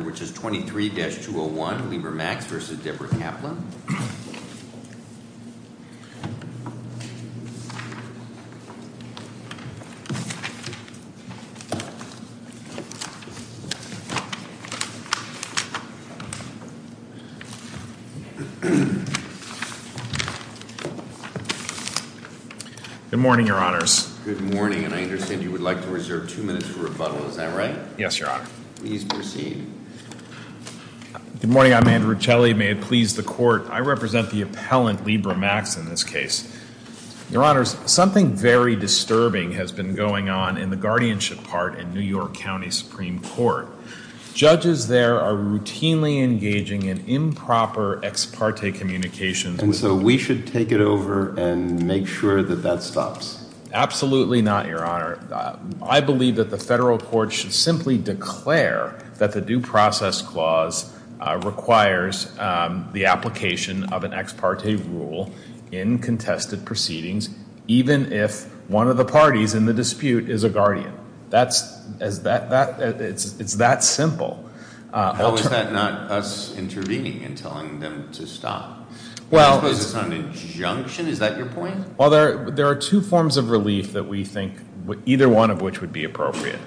which is 23-201, Liebermax v. Debra Kaplan. Good morning, your honors. Good morning, and I understand you would like to reserve two minutes for rebuttal, is that right? Yes, your honor. Please proceed. Good morning. I'm Andrew Celi. May it please the court, I represent the appellant, Liebermax, in this case. Your honors, something very disturbing has been going on in the guardianship part in New York County Supreme Court. Judges there are routinely engaging in improper ex parte communications. And so we should take it over and make sure that that stops? Absolutely not, your honor. I believe that the federal court should simply declare that the due process clause requires the application of an ex parte rule in contested proceedings even if one of the parties in the dispute is a guardian. It's that simple. How is that not us intervening and telling them to stop? I suppose it's not an injunction, is that your point? Well, there are two forms of relief that we think, either one of which would be appropriate.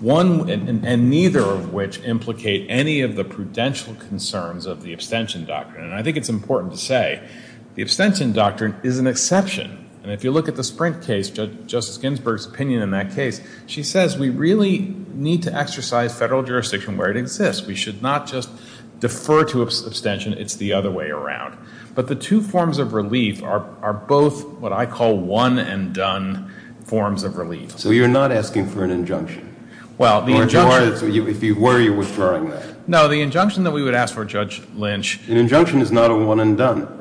One and neither of which implicate any of the prudential concerns of the abstention doctrine. And I think it's important to say the abstention doctrine is an exception. And if you look at the Sprint case, Justice Ginsburg's opinion in that case, she says we really need to exercise federal jurisdiction where it exists. We should not just defer to abstention, it's the other way around. But the two forms of relief are both what I call one and done forms of relief. So you're not asking for an injunction? Well, the injunction, if you were, you're withdrawing that? No, the injunction that we would ask for, Judge Lynch. An injunction is not a one and done.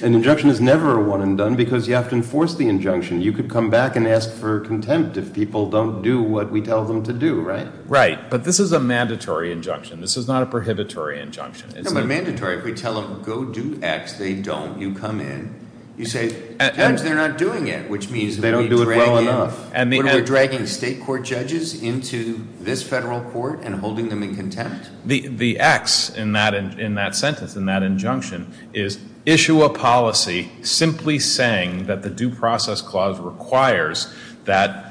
An injunction is never a one and done because you have to enforce the injunction. You could come back and ask for contempt if people don't do what we tell them to do, right? Right, but this is a mandatory injunction. This is not a prohibitory injunction. No, but mandatory. If we tell them go do X, they don't, you come in, you say, Judge, they're not doing it, which means that we're dragging- They don't do it well enough. We're dragging state court judges into this federal court and holding them in contempt? The X in that sentence, in that injunction, is issue a policy simply saying that the due process clause requires that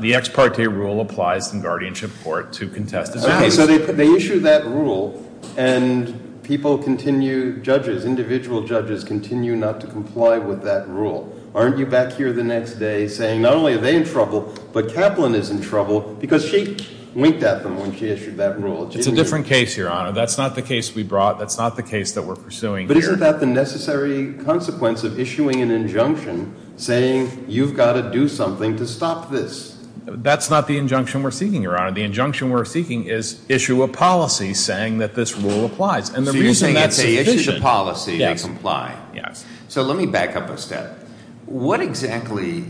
the ex parte rule applies in guardianship court to contest this injunction. Okay, so they issue that rule and people continue, judges, individual judges continue not to comply with that rule. Aren't you back here the next day saying not only are they in trouble, but Kaplan is in trouble because she winked at them when she issued that rule. It's a different case, Your Honor. That's not the case we brought. That's not the case that we're pursuing here. But isn't that the necessary consequence of issuing an injunction saying you've got to do something to stop this? That's not the injunction we're seeking, Your Honor. The injunction we're seeking is issue a policy saying that this rule applies. And the reason that's sufficient- So you're saying it's a issue of policy to comply. Yes. So let me back up a step. What exactly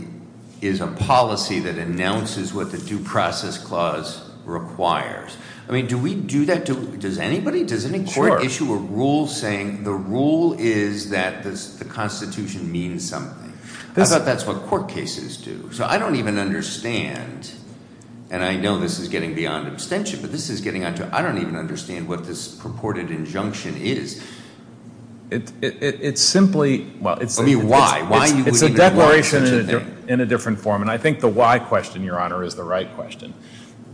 is a policy that announces what the due process clause requires? I mean, do we do that to... Does anybody, does any court issue a rule saying the rule is that the constitution means something? I thought that's what court cases do. So I don't even understand, and I know this is getting beyond abstention, but this is getting onto... I don't even understand what this purported injunction is. It's simply- I mean, why? Why would you- It's a declaration in a different form. And I think the why question, Your Honor, is the right question.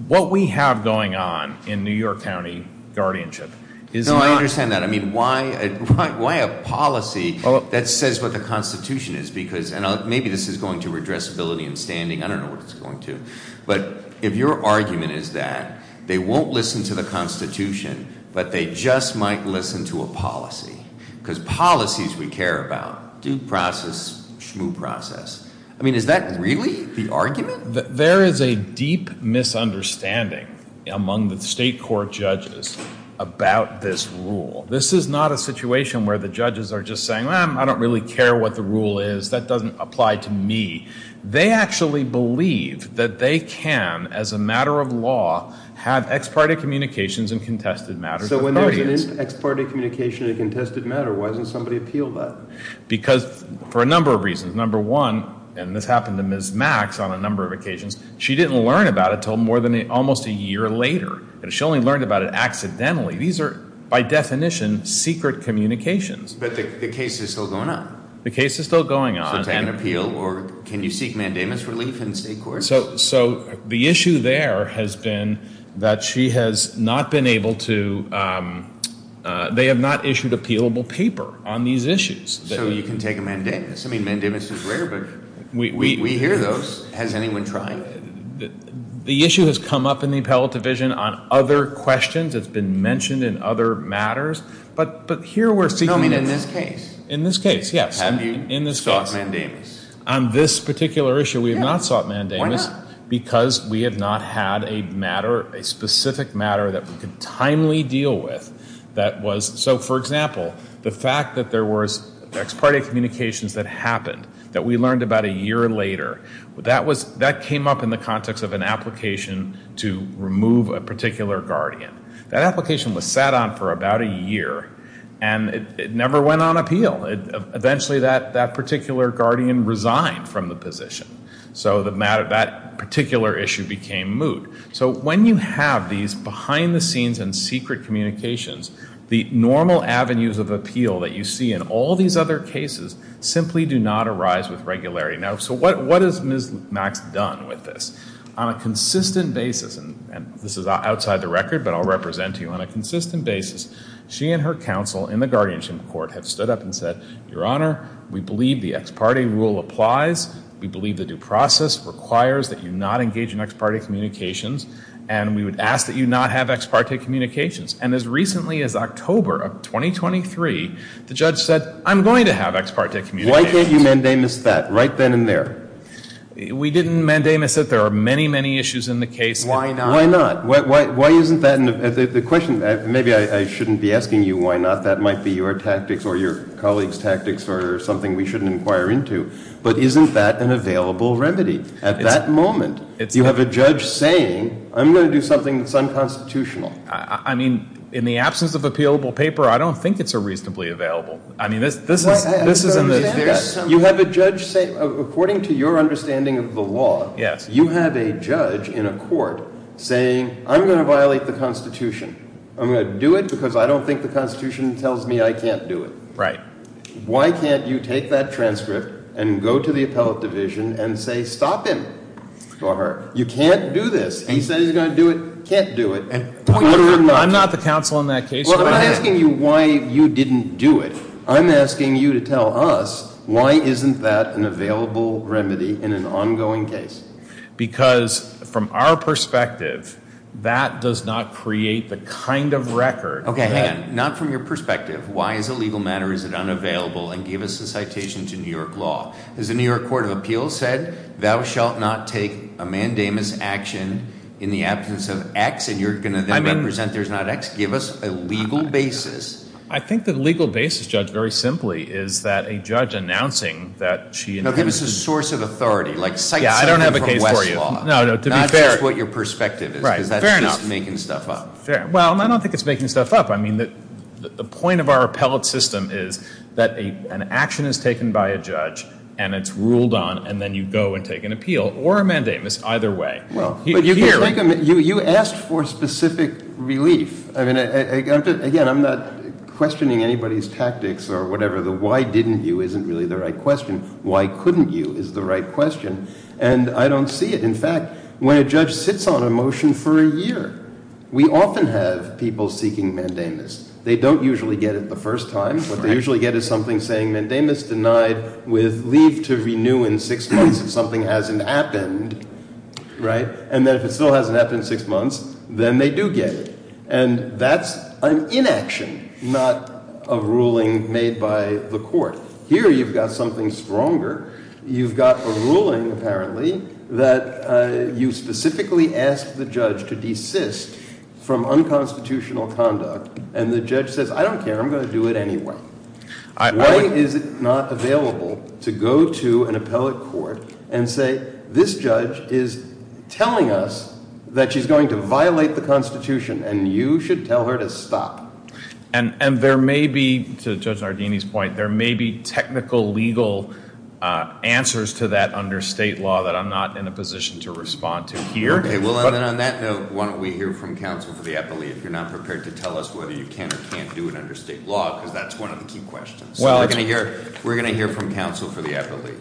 What we have going on in New York County guardianship is not- No, I understand that. I mean, why a policy that says what the constitution is? Because, and maybe this is going to redress ability and standing. I don't know what it's going to. But if your argument is that they won't listen to the constitution, but they just might listen to a policy, because policies we care about, due process, schmoo process, I mean, is that really the argument? There is a deep misunderstanding among the state court judges about this rule. This is not a situation where the judges are just saying, well, I don't really care what the rule is. That doesn't apply to me. They actually believe that they can, as a matter of law, have ex parte communications and contested matters- So when there is an ex parte communication and contested matter, why doesn't somebody appeal that? Because for a number of reasons. Number one, and this happened to Ms. Max on a number of occasions, she didn't learn about it until more than almost a year later. She only learned about it accidentally. These are, by definition, secret communications. But the case is still going on. The case is still going on. So can you appeal, or can you seek mandamus relief in state court? So the issue there has been that she has not been able to, they have not issued appealable paper on these issues. So you can take a mandamus. I mean, mandamus is rare, but we hear those. Has anyone tried? The issue has come up in the appellate division on other questions. It's been mentioned in other matters. But here we're seeking- No, I mean in this case. In this case, yes. Have you sought mandamus? On this particular issue, we have not sought mandamus because we have not had a matter, a specific matter that we could timely deal with that was, so for example, the fact that there was ex parte communications that happened, that we learned about a year later, that came up in the context of an application to remove a particular guardian. That application was sat on for about a year, and it never went on appeal. Eventually that particular guardian resigned from the position. So that particular issue became moot. So when you have these behind the scenes and secret communications, the normal avenues of appeal that you see in all these other cases simply do not arise with regularity. So what has Ms. Max done with this? On a consistent basis, and this is outside the record, but I'll represent to you, on a consistent basis, she and her counsel in the guardianship court have stood up and said, Your Honor, we believe the ex parte rule applies. We believe the due process requires that you not engage in ex parte communications. And we would ask that you not have ex parte communications. And as recently as October of 2023, the judge said, I'm going to have ex parte communications. Why can't you mandamus that right then and there? We didn't mandamus it. There are many, many issues in the case. Why not? Why not? Why isn't that the question? Maybe I shouldn't be asking you why not. That might be your tactics, or your colleagues' tactics, or something we shouldn't inquire into. But isn't that an available remedy? At that moment, you have a judge saying, I'm going to do something that's unconstitutional. I mean, in the absence of appealable paper, I don't think it's a reasonably available. I mean, this is in the. You have a judge say, according to your understanding of the law, you have a judge in a court saying, I'm going to violate the Constitution. I'm going to do it because I don't think the Constitution tells me I can't do it. Why can't you take that transcript and go to the appellate division and say, stop him. You can't do this. He said he's going to do it. Can't do it. I'm not the counsel in that case. Well, I'm not asking you why you didn't do it. I'm asking you to tell us, why isn't that an available remedy in an ongoing case? Because from our perspective, that does not create the kind of record that. Okay, hang on. Not from your perspective. Why is a legal matter is it unavailable? And give us a citation to New York law. As the New York Court of Appeals said, thou shalt not take a mandamus action in the absence of X, and you're going to then represent there's not X. Give us a legal basis. I think the legal basis, Judge, very simply is that a judge announcing that she. No, give us a source of authority, like cite something from Westlaw. Yeah, I don't have a case for you. No, no, to be fair. Not just what your perspective is. Right, fair enough. Because that's just making stuff up. Fair. Well, I don't think it's making stuff up. I mean, the point of our appellate system is that an action is taken by a judge, and it's ruled on, and then you go and take an appeal or a mandamus either way. Well, but you asked for specific relief. I mean, again, I'm not questioning anybody's tactics or whatever. The why didn't you isn't really the right question. Why couldn't you is the right question, and I don't see it. In fact, when a judge sits on a motion for a year, we often have people seeking mandamus. They don't usually get it the first time. What they usually get is something saying mandamus denied with leave to renew in six months if something hasn't happened, right? And then if it still hasn't happened in six months, then they do get it. And that's an inaction, not a ruling made by the court. Here, you've got something stronger. You've got a ruling, apparently, that you specifically asked the judge to desist from unconstitutional conduct. And the judge says, I don't care, I'm going to do it anyway. Why is it not available to go to an appellate court and say this judge is telling us that she's going to violate the constitution and you should tell her to stop? And there may be, to Judge Nardini's point, there may be technical legal answers to that under state law that I'm not in a position to respond to here. Okay, well then on that note, why don't we hear from counsel for the appellate if you're not prepared to tell us whether you can or can't do it under state law, because that's one of the key questions. Well, we're going to hear from counsel for the appellate.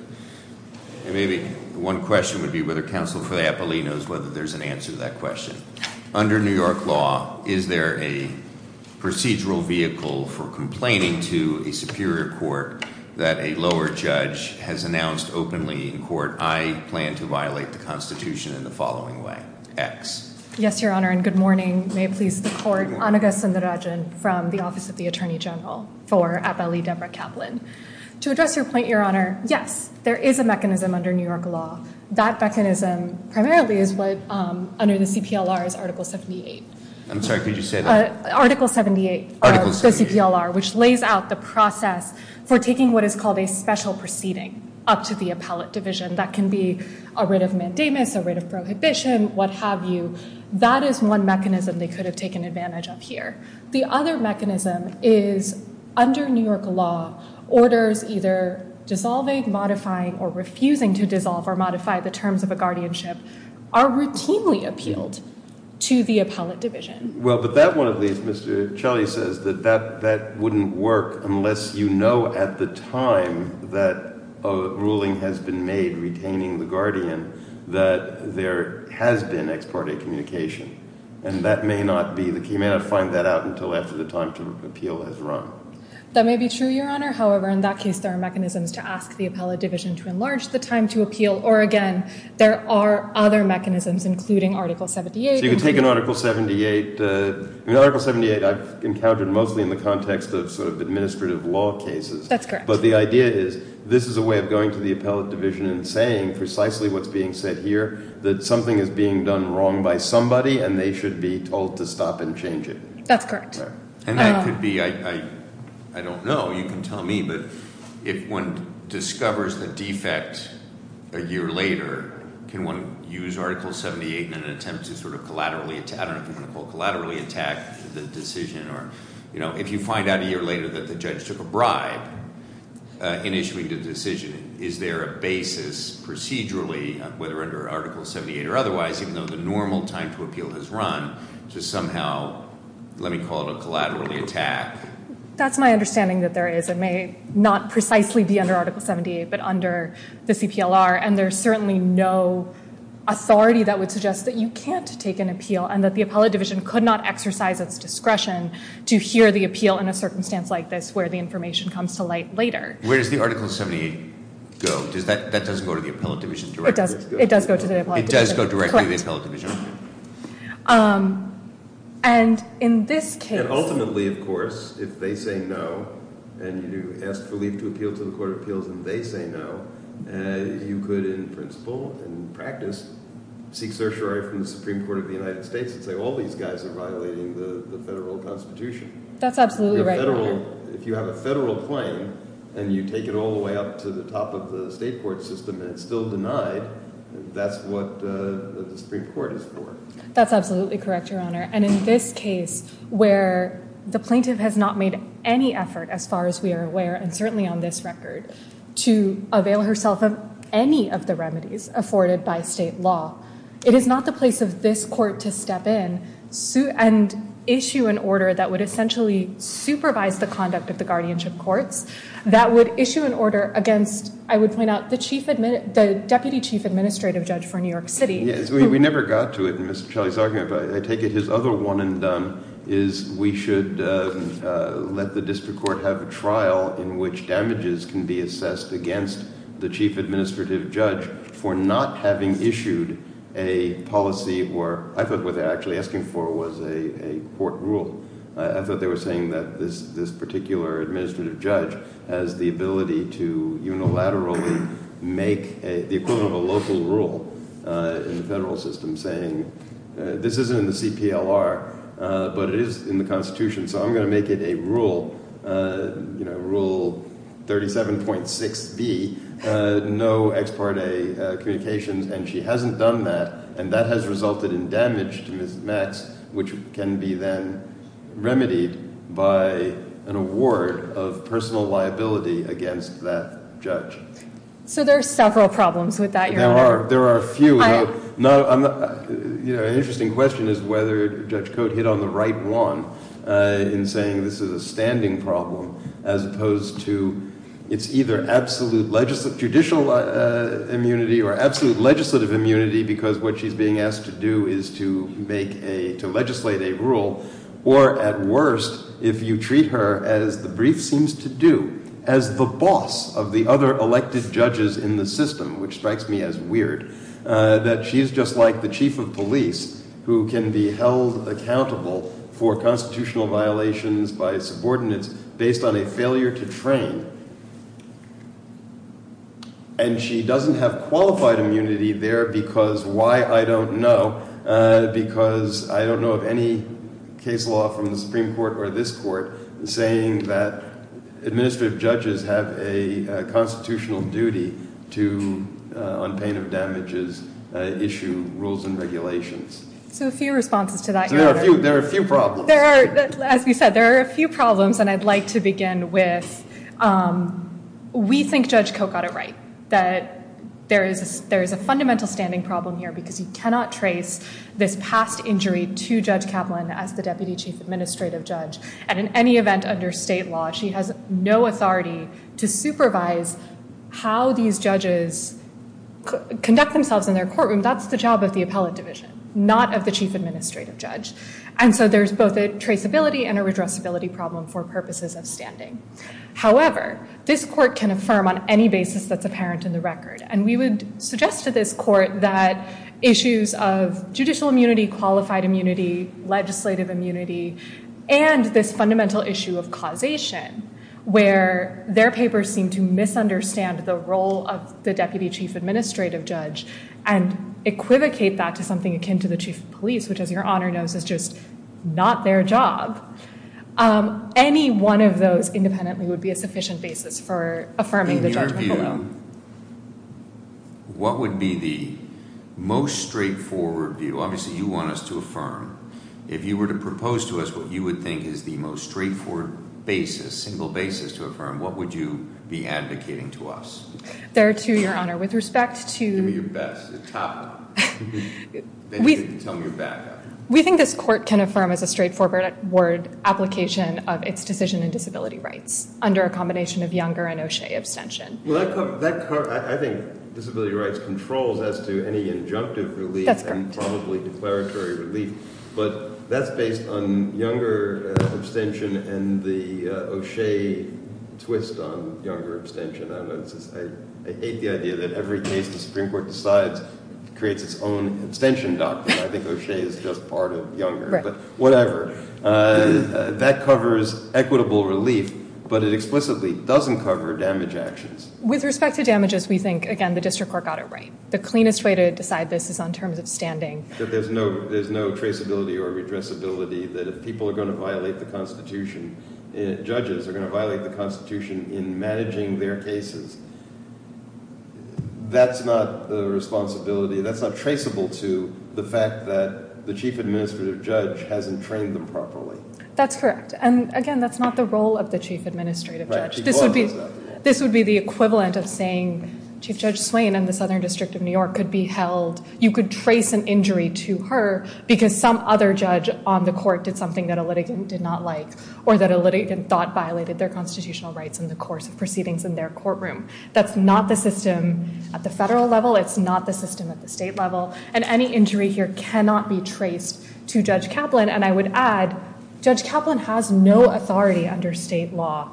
And maybe one question would be whether counsel for the appellate knows whether there's an answer to that question. Under New York law, is there a procedural vehicle for complaining to a superior court that a lower judge has announced openly in court, I plan to violate the constitution in the following way, X. Yes, your honor, and good morning. May it please the court. Anagha Sundararajan from the Office of the Attorney General for Appellee Debra Kaplan. To address your point, your honor, yes, there is a mechanism under New York law. That mechanism primarily is what under the CPLR is Article 78. I'm sorry, could you say that? Article 78 of the CPLR, which lays out the process for taking what is called a special proceeding up to the appellate division that can be a writ of mandamus, a writ of prohibition, what have you, that is one mechanism they could have taken advantage of here. The other mechanism is under New York law, orders either dissolving, modifying, or refusing to dissolve or modify the terms of a guardianship are routinely appealed to the appellate division. Well, but that one of these, Mr. Chelley says that that wouldn't work unless you know at the time that a ruling has been made retaining the guardian that there has been ex parte communication. And that may not be, you may not find that out until after the time to appeal has run. That may be true, your honor. However, in that case, there are mechanisms to ask the appellate division to enlarge the time to appeal. Or again, there are other mechanisms, including Article 78. So you can take an Article 78. In Article 78, I've encountered mostly in the context of sort of administrative law cases. That's correct. But the idea is, this is a way of going to the appellate division and saying precisely what's being said here. That something is being done wrong by somebody, and they should be told to stop and change it. That's correct. And that could be, I don't know, you can tell me. But if one discovers the defect a year later, can one use Article 78 in an attempt to sort of collaterally, I don't know if you want to call it collaterally attack the decision. Or if you find out a year later that the judge took a bribe in issuing the decision, is there a basis procedurally, whether under Article 78 or otherwise, even though the normal time to appeal has run, to somehow, let me call it a collaterally attack. That's my understanding that there is. It may not precisely be under Article 78, but under the CPLR. And there's certainly no authority that would suggest that you can't take an appeal. And that the appellate division could not exercise its discretion to hear the appeal in a circumstance like this, where the information comes to light later. Where does the Article 78 go? Does that, that doesn't go to the appellate division directly. It does. It does go to the appellate division. It does go directly to the appellate division. Correct. And in this case. And ultimately, of course, if they say no, and you ask for leave to appeal to the court of appeals, and they say no. You could, in principle, in practice, seek certiorari from the Supreme Court of the United States, and say all these guys are violating the federal constitution. That's absolutely right, your honor. If you have a federal claim, and you take it all the way up to the top of the state court system, and it's still denied, that's what the Supreme Court is for. That's absolutely correct, your honor. And in this case, where the plaintiff has not made any effort, as far as we are aware, and certainly on this record, to avail herself of any of the remedies afforded by state law. It is not the place of this court to step in and issue an order that would essentially supervise the conduct of the guardianship courts, that would issue an order against, I would point out, the deputy chief administrative judge for New York City. Yes, we never got to it in Mr. Shelley's argument, but I take it his other one and is we should let the district court have a trial in which damages can be assessed against the chief administrative judge for not having issued a policy or I thought what they were actually asking for was a court rule. I thought they were saying that this particular administrative judge has the ability to unilaterally make the equivalent of a local rule in the federal system, saying this isn't in the CPLR, but it is in the Constitution, so I'm going to make it a rule. Rule 37.6B, no ex parte communications, and she hasn't done that, and that has resulted in damage to Ms. Metz, which can be then remedied by an award of personal liability against that judge. So there are several problems with that, Your Honor. There are a few. An interesting question is whether Judge Cote hit on the right one in saying this is a standing problem, as opposed to it's either absolute judicial immunity or absolute legislative immunity because what she's being asked to do is to legislate a rule. Or at worst, if you treat her as the brief seems to do, as the boss of the other elected judges in the system, which strikes me as weird, that she's just like the chief of police who can be held accountable for constitutional violations by subordinates based on a failure to train. And she doesn't have qualified immunity there because why, I don't know, because I don't know of any case law from the Supreme Court or this court saying that administrative judges have a constitutional duty to, on pain of damages, issue rules and regulations. So a few responses to that. So there are a few problems. There are, as we said, there are a few problems, and I'd like to begin with, we think Judge Cote got it right. That there is a fundamental standing problem here because you cannot trace this past injury to Judge Kaplan as the Deputy Chief Administrative Judge. And in any event under state law, she has no authority to supervise how these judges conduct themselves in their courtroom, that's the job of the appellate division, not of the Chief Administrative Judge. And so there's both a traceability and a redressability problem for purposes of standing. However, this court can affirm on any basis that's apparent in the record. And we would suggest to this court that issues of judicial immunity, qualified immunity, legislative immunity, and this fundamental issue of causation, where their papers seem to misunderstand the role of the Deputy Chief Administrative Judge, and equivocate that to something akin to the Chief of Police, which as your honor knows is just not their job. Any one of those independently would be a sufficient basis for affirming the judgment below. In your view, what would be the most straightforward view? Obviously you want us to affirm. If you were to propose to us what you would think is the most straightforward basis, single basis to affirm, what would you be advocating to us? There to your honor, with respect to- Give me your best, the top one, then you can tell me your backup. We think this court can affirm as a straightforward word application of its decision and disability rights under a combination of Younger and O'Shea abstention. Well, I think disability rights controls as to any injunctive relief and probably declaratory relief. But that's based on Younger abstention and the O'Shea twist on Younger abstention. I hate the idea that every case the Supreme Court decides creates its own abstention doctrine. I think O'Shea is just part of Younger, but whatever. That covers equitable relief, but it explicitly doesn't cover damage actions. With respect to damages, we think, again, the district court got it right. The cleanest way to decide this is on terms of standing. That there's no traceability or redressability, that if people are going to violate the Constitution, judges are going to violate the Constitution in managing their cases, that's not the responsibility. That's not traceable to the fact that the Chief Administrative Judge hasn't trained them properly. That's correct, and again, that's not the role of the Chief Administrative Judge. This would be the equivalent of saying Chief Judge Swain in the Southern District of New York could be held. You could trace an injury to her because some other judge on the court did something that a litigant did not like. Or that a litigant thought violated their constitutional rights in the course of proceedings in their courtroom. That's not the system at the federal level. It's not the system at the state level, and any injury here cannot be traced to Judge Kaplan. And I would add, Judge Kaplan has no authority under state law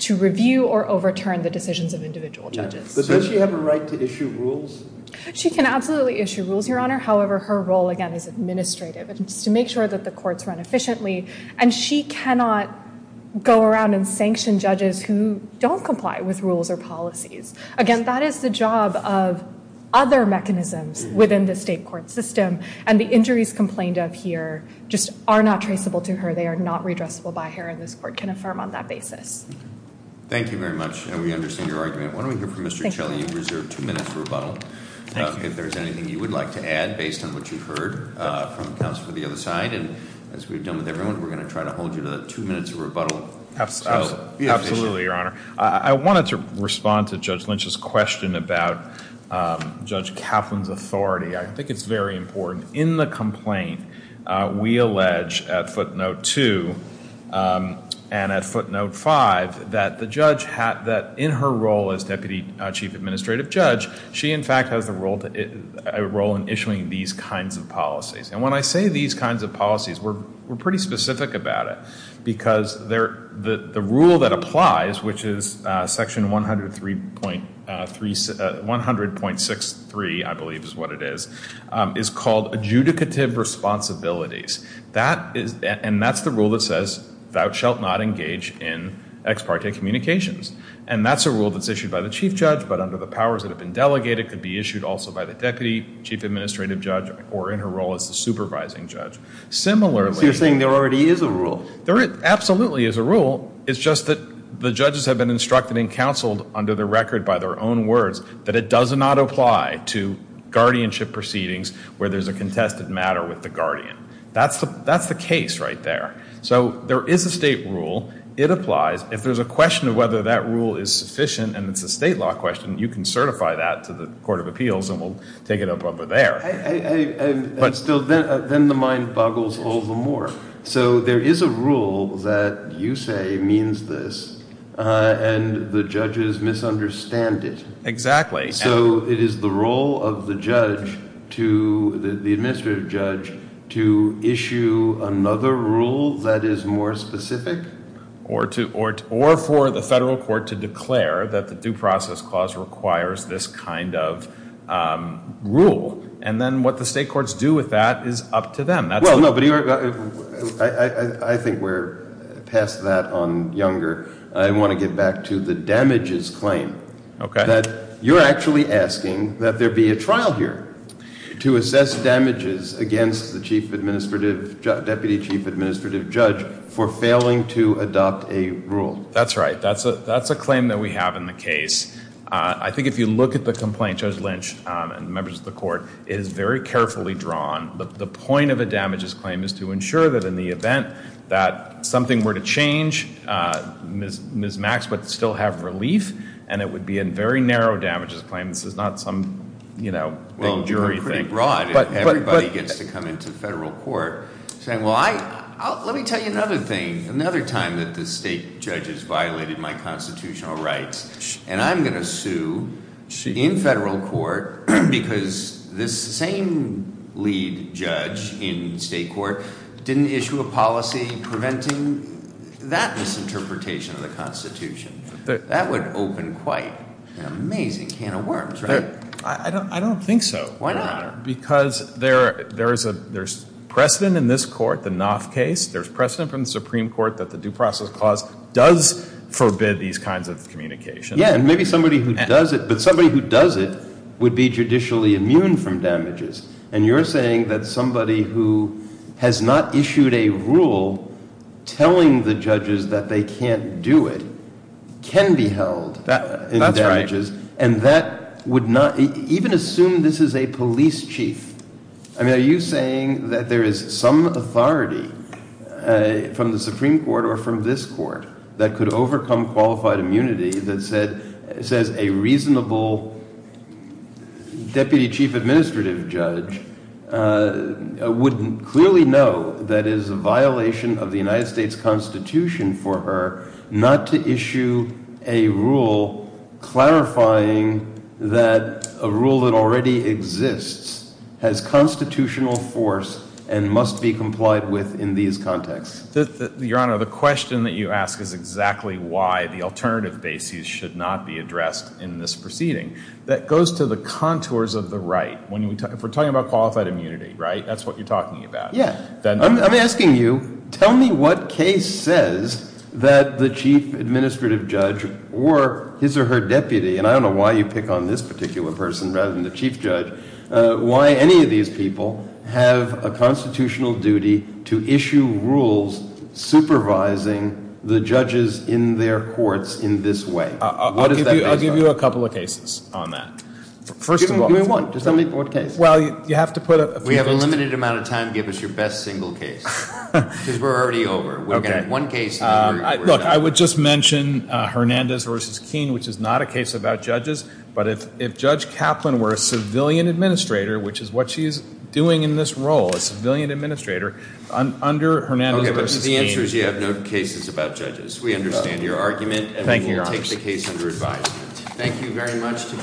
to review or overturn the decisions of individual judges. But does she have a right to issue rules? She can absolutely issue rules, Your Honor. However, her role, again, is administrative. It's to make sure that the courts run efficiently, and she cannot go around and Again, that is the job of other mechanisms within the state court system. And the injuries complained of here just are not traceable to her. They are not redressable by her, and this court can affirm on that basis. Thank you very much, and we understand your argument. Why don't we hear from Mr. Chelley, you've reserved two minutes of rebuttal. If there's anything you would like to add based on what you've heard from counsel for the other side. And as we've done with everyone, we're going to try to hold you to two minutes of rebuttal. Absolutely, Your Honor. I wanted to respond to Judge Lynch's question about Judge Kaplan's authority. I think it's very important. In the complaint, we allege at footnote two and at footnote five that in her role as Deputy Chief Administrative Judge, she in fact has a role in issuing these kinds of policies. And when I say these kinds of policies, we're pretty specific about it. Because the rule that applies, which is section 100.63, I believe is what it is, is called adjudicative responsibilities. And that's the rule that says, thou shalt not engage in ex parte communications. And that's a rule that's issued by the Chief Judge, but under the powers that have been delegated, could be issued also by the Deputy Chief Administrative Judge, or in her role as the Supervising Judge. So you're saying there already is a rule? There absolutely is a rule. It's just that the judges have been instructed and counseled under the record by their own words that it does not apply to guardianship proceedings where there's a contested matter with the guardian. That's the case right there. So there is a state rule. It applies. If there's a question of whether that rule is sufficient, and it's a state law question, you can certify that to the Court of Appeals, and we'll take it up over there. But still, then the mind boggles all the more. So there is a rule that you say means this, and the judges misunderstand it. Exactly. So it is the role of the judge to, the administrative judge, to issue another rule that is more specific? Or for the federal court to declare that the Due Process Clause requires this kind of rule. And then what the state courts do with that is up to them. Well, no, but I think we're past that on Younger. I want to get back to the damages claim. Okay. That you're actually asking that there be a trial here to assess damages against the Chief Administrative, Deputy Chief Administrative Judge for failing to adopt a rule. That's right. That's a claim that we have in the case. I think if you look at the complaint, Judge Lynch and members of the court, it is very carefully drawn. The point of a damages claim is to ensure that in the event that something were to change, Ms. Maxwell would still have relief, and it would be a very narrow damages claim. This is not some, you know, big jury thing. Well, pretty broad. Everybody gets to come into federal court saying, well, I, let me tell you another thing. Another time that the state judges violated my constitutional rights, and I'm going to sue in federal court because this same lead judge in state court didn't issue a policy preventing that misinterpretation of the Constitution. That would open quite an amazing can of worms, right? I don't think so. Why not? Because there's precedent in this court, the Knopf case. There's precedent from the Supreme Court that the Due Process Clause does forbid these kinds of communications. Yeah, and maybe somebody who does it, but somebody who does it would be judicially immune from damages. And you're saying that somebody who has not issued a rule telling the judges that they can't do it can be held in damages. And that would not, even assume this is a police chief, I mean, are you saying that there is some authority from the Supreme Court or from this court that could overcome qualified immunity that says a reasonable Deputy Chief Administrative Judge would clearly know that it is a violation of the United States Constitution for her not to issue a rule clarifying that a rule that already exists has constitutional force and must be complied with in these contexts? Your Honor, the question that you ask is exactly why the alternative basis should not be addressed in this proceeding that goes to the contours of the right. If we're talking about qualified immunity, right, that's what you're talking about. Yeah. I'm asking you, tell me what case says that the Chief Administrative Judge or his or her Deputy, and I don't know why you pick on this particular person rather than the Chief Judge, but why any of these people have a constitutional duty to issue rules supervising the judges in their courts in this way? What does that mean? I'll give you a couple of cases on that. First of all. Give me one. Just tell me what case. Well, you have to put a few things. We have a limited amount of time. Give us your best single case because we're already over. We've got one case. Look, I would just mention Hernandez v. Keene, which is not a case about judges, but if Judge Kaplan were a civilian administrator, which is what she's doing in this role, a civilian administrator, under Hernandez v. Keene. Okay, but the answer is you have no cases about judges. We understand your argument. Thank you, Your Honor. And we will take the case under advisement. Thank you very much.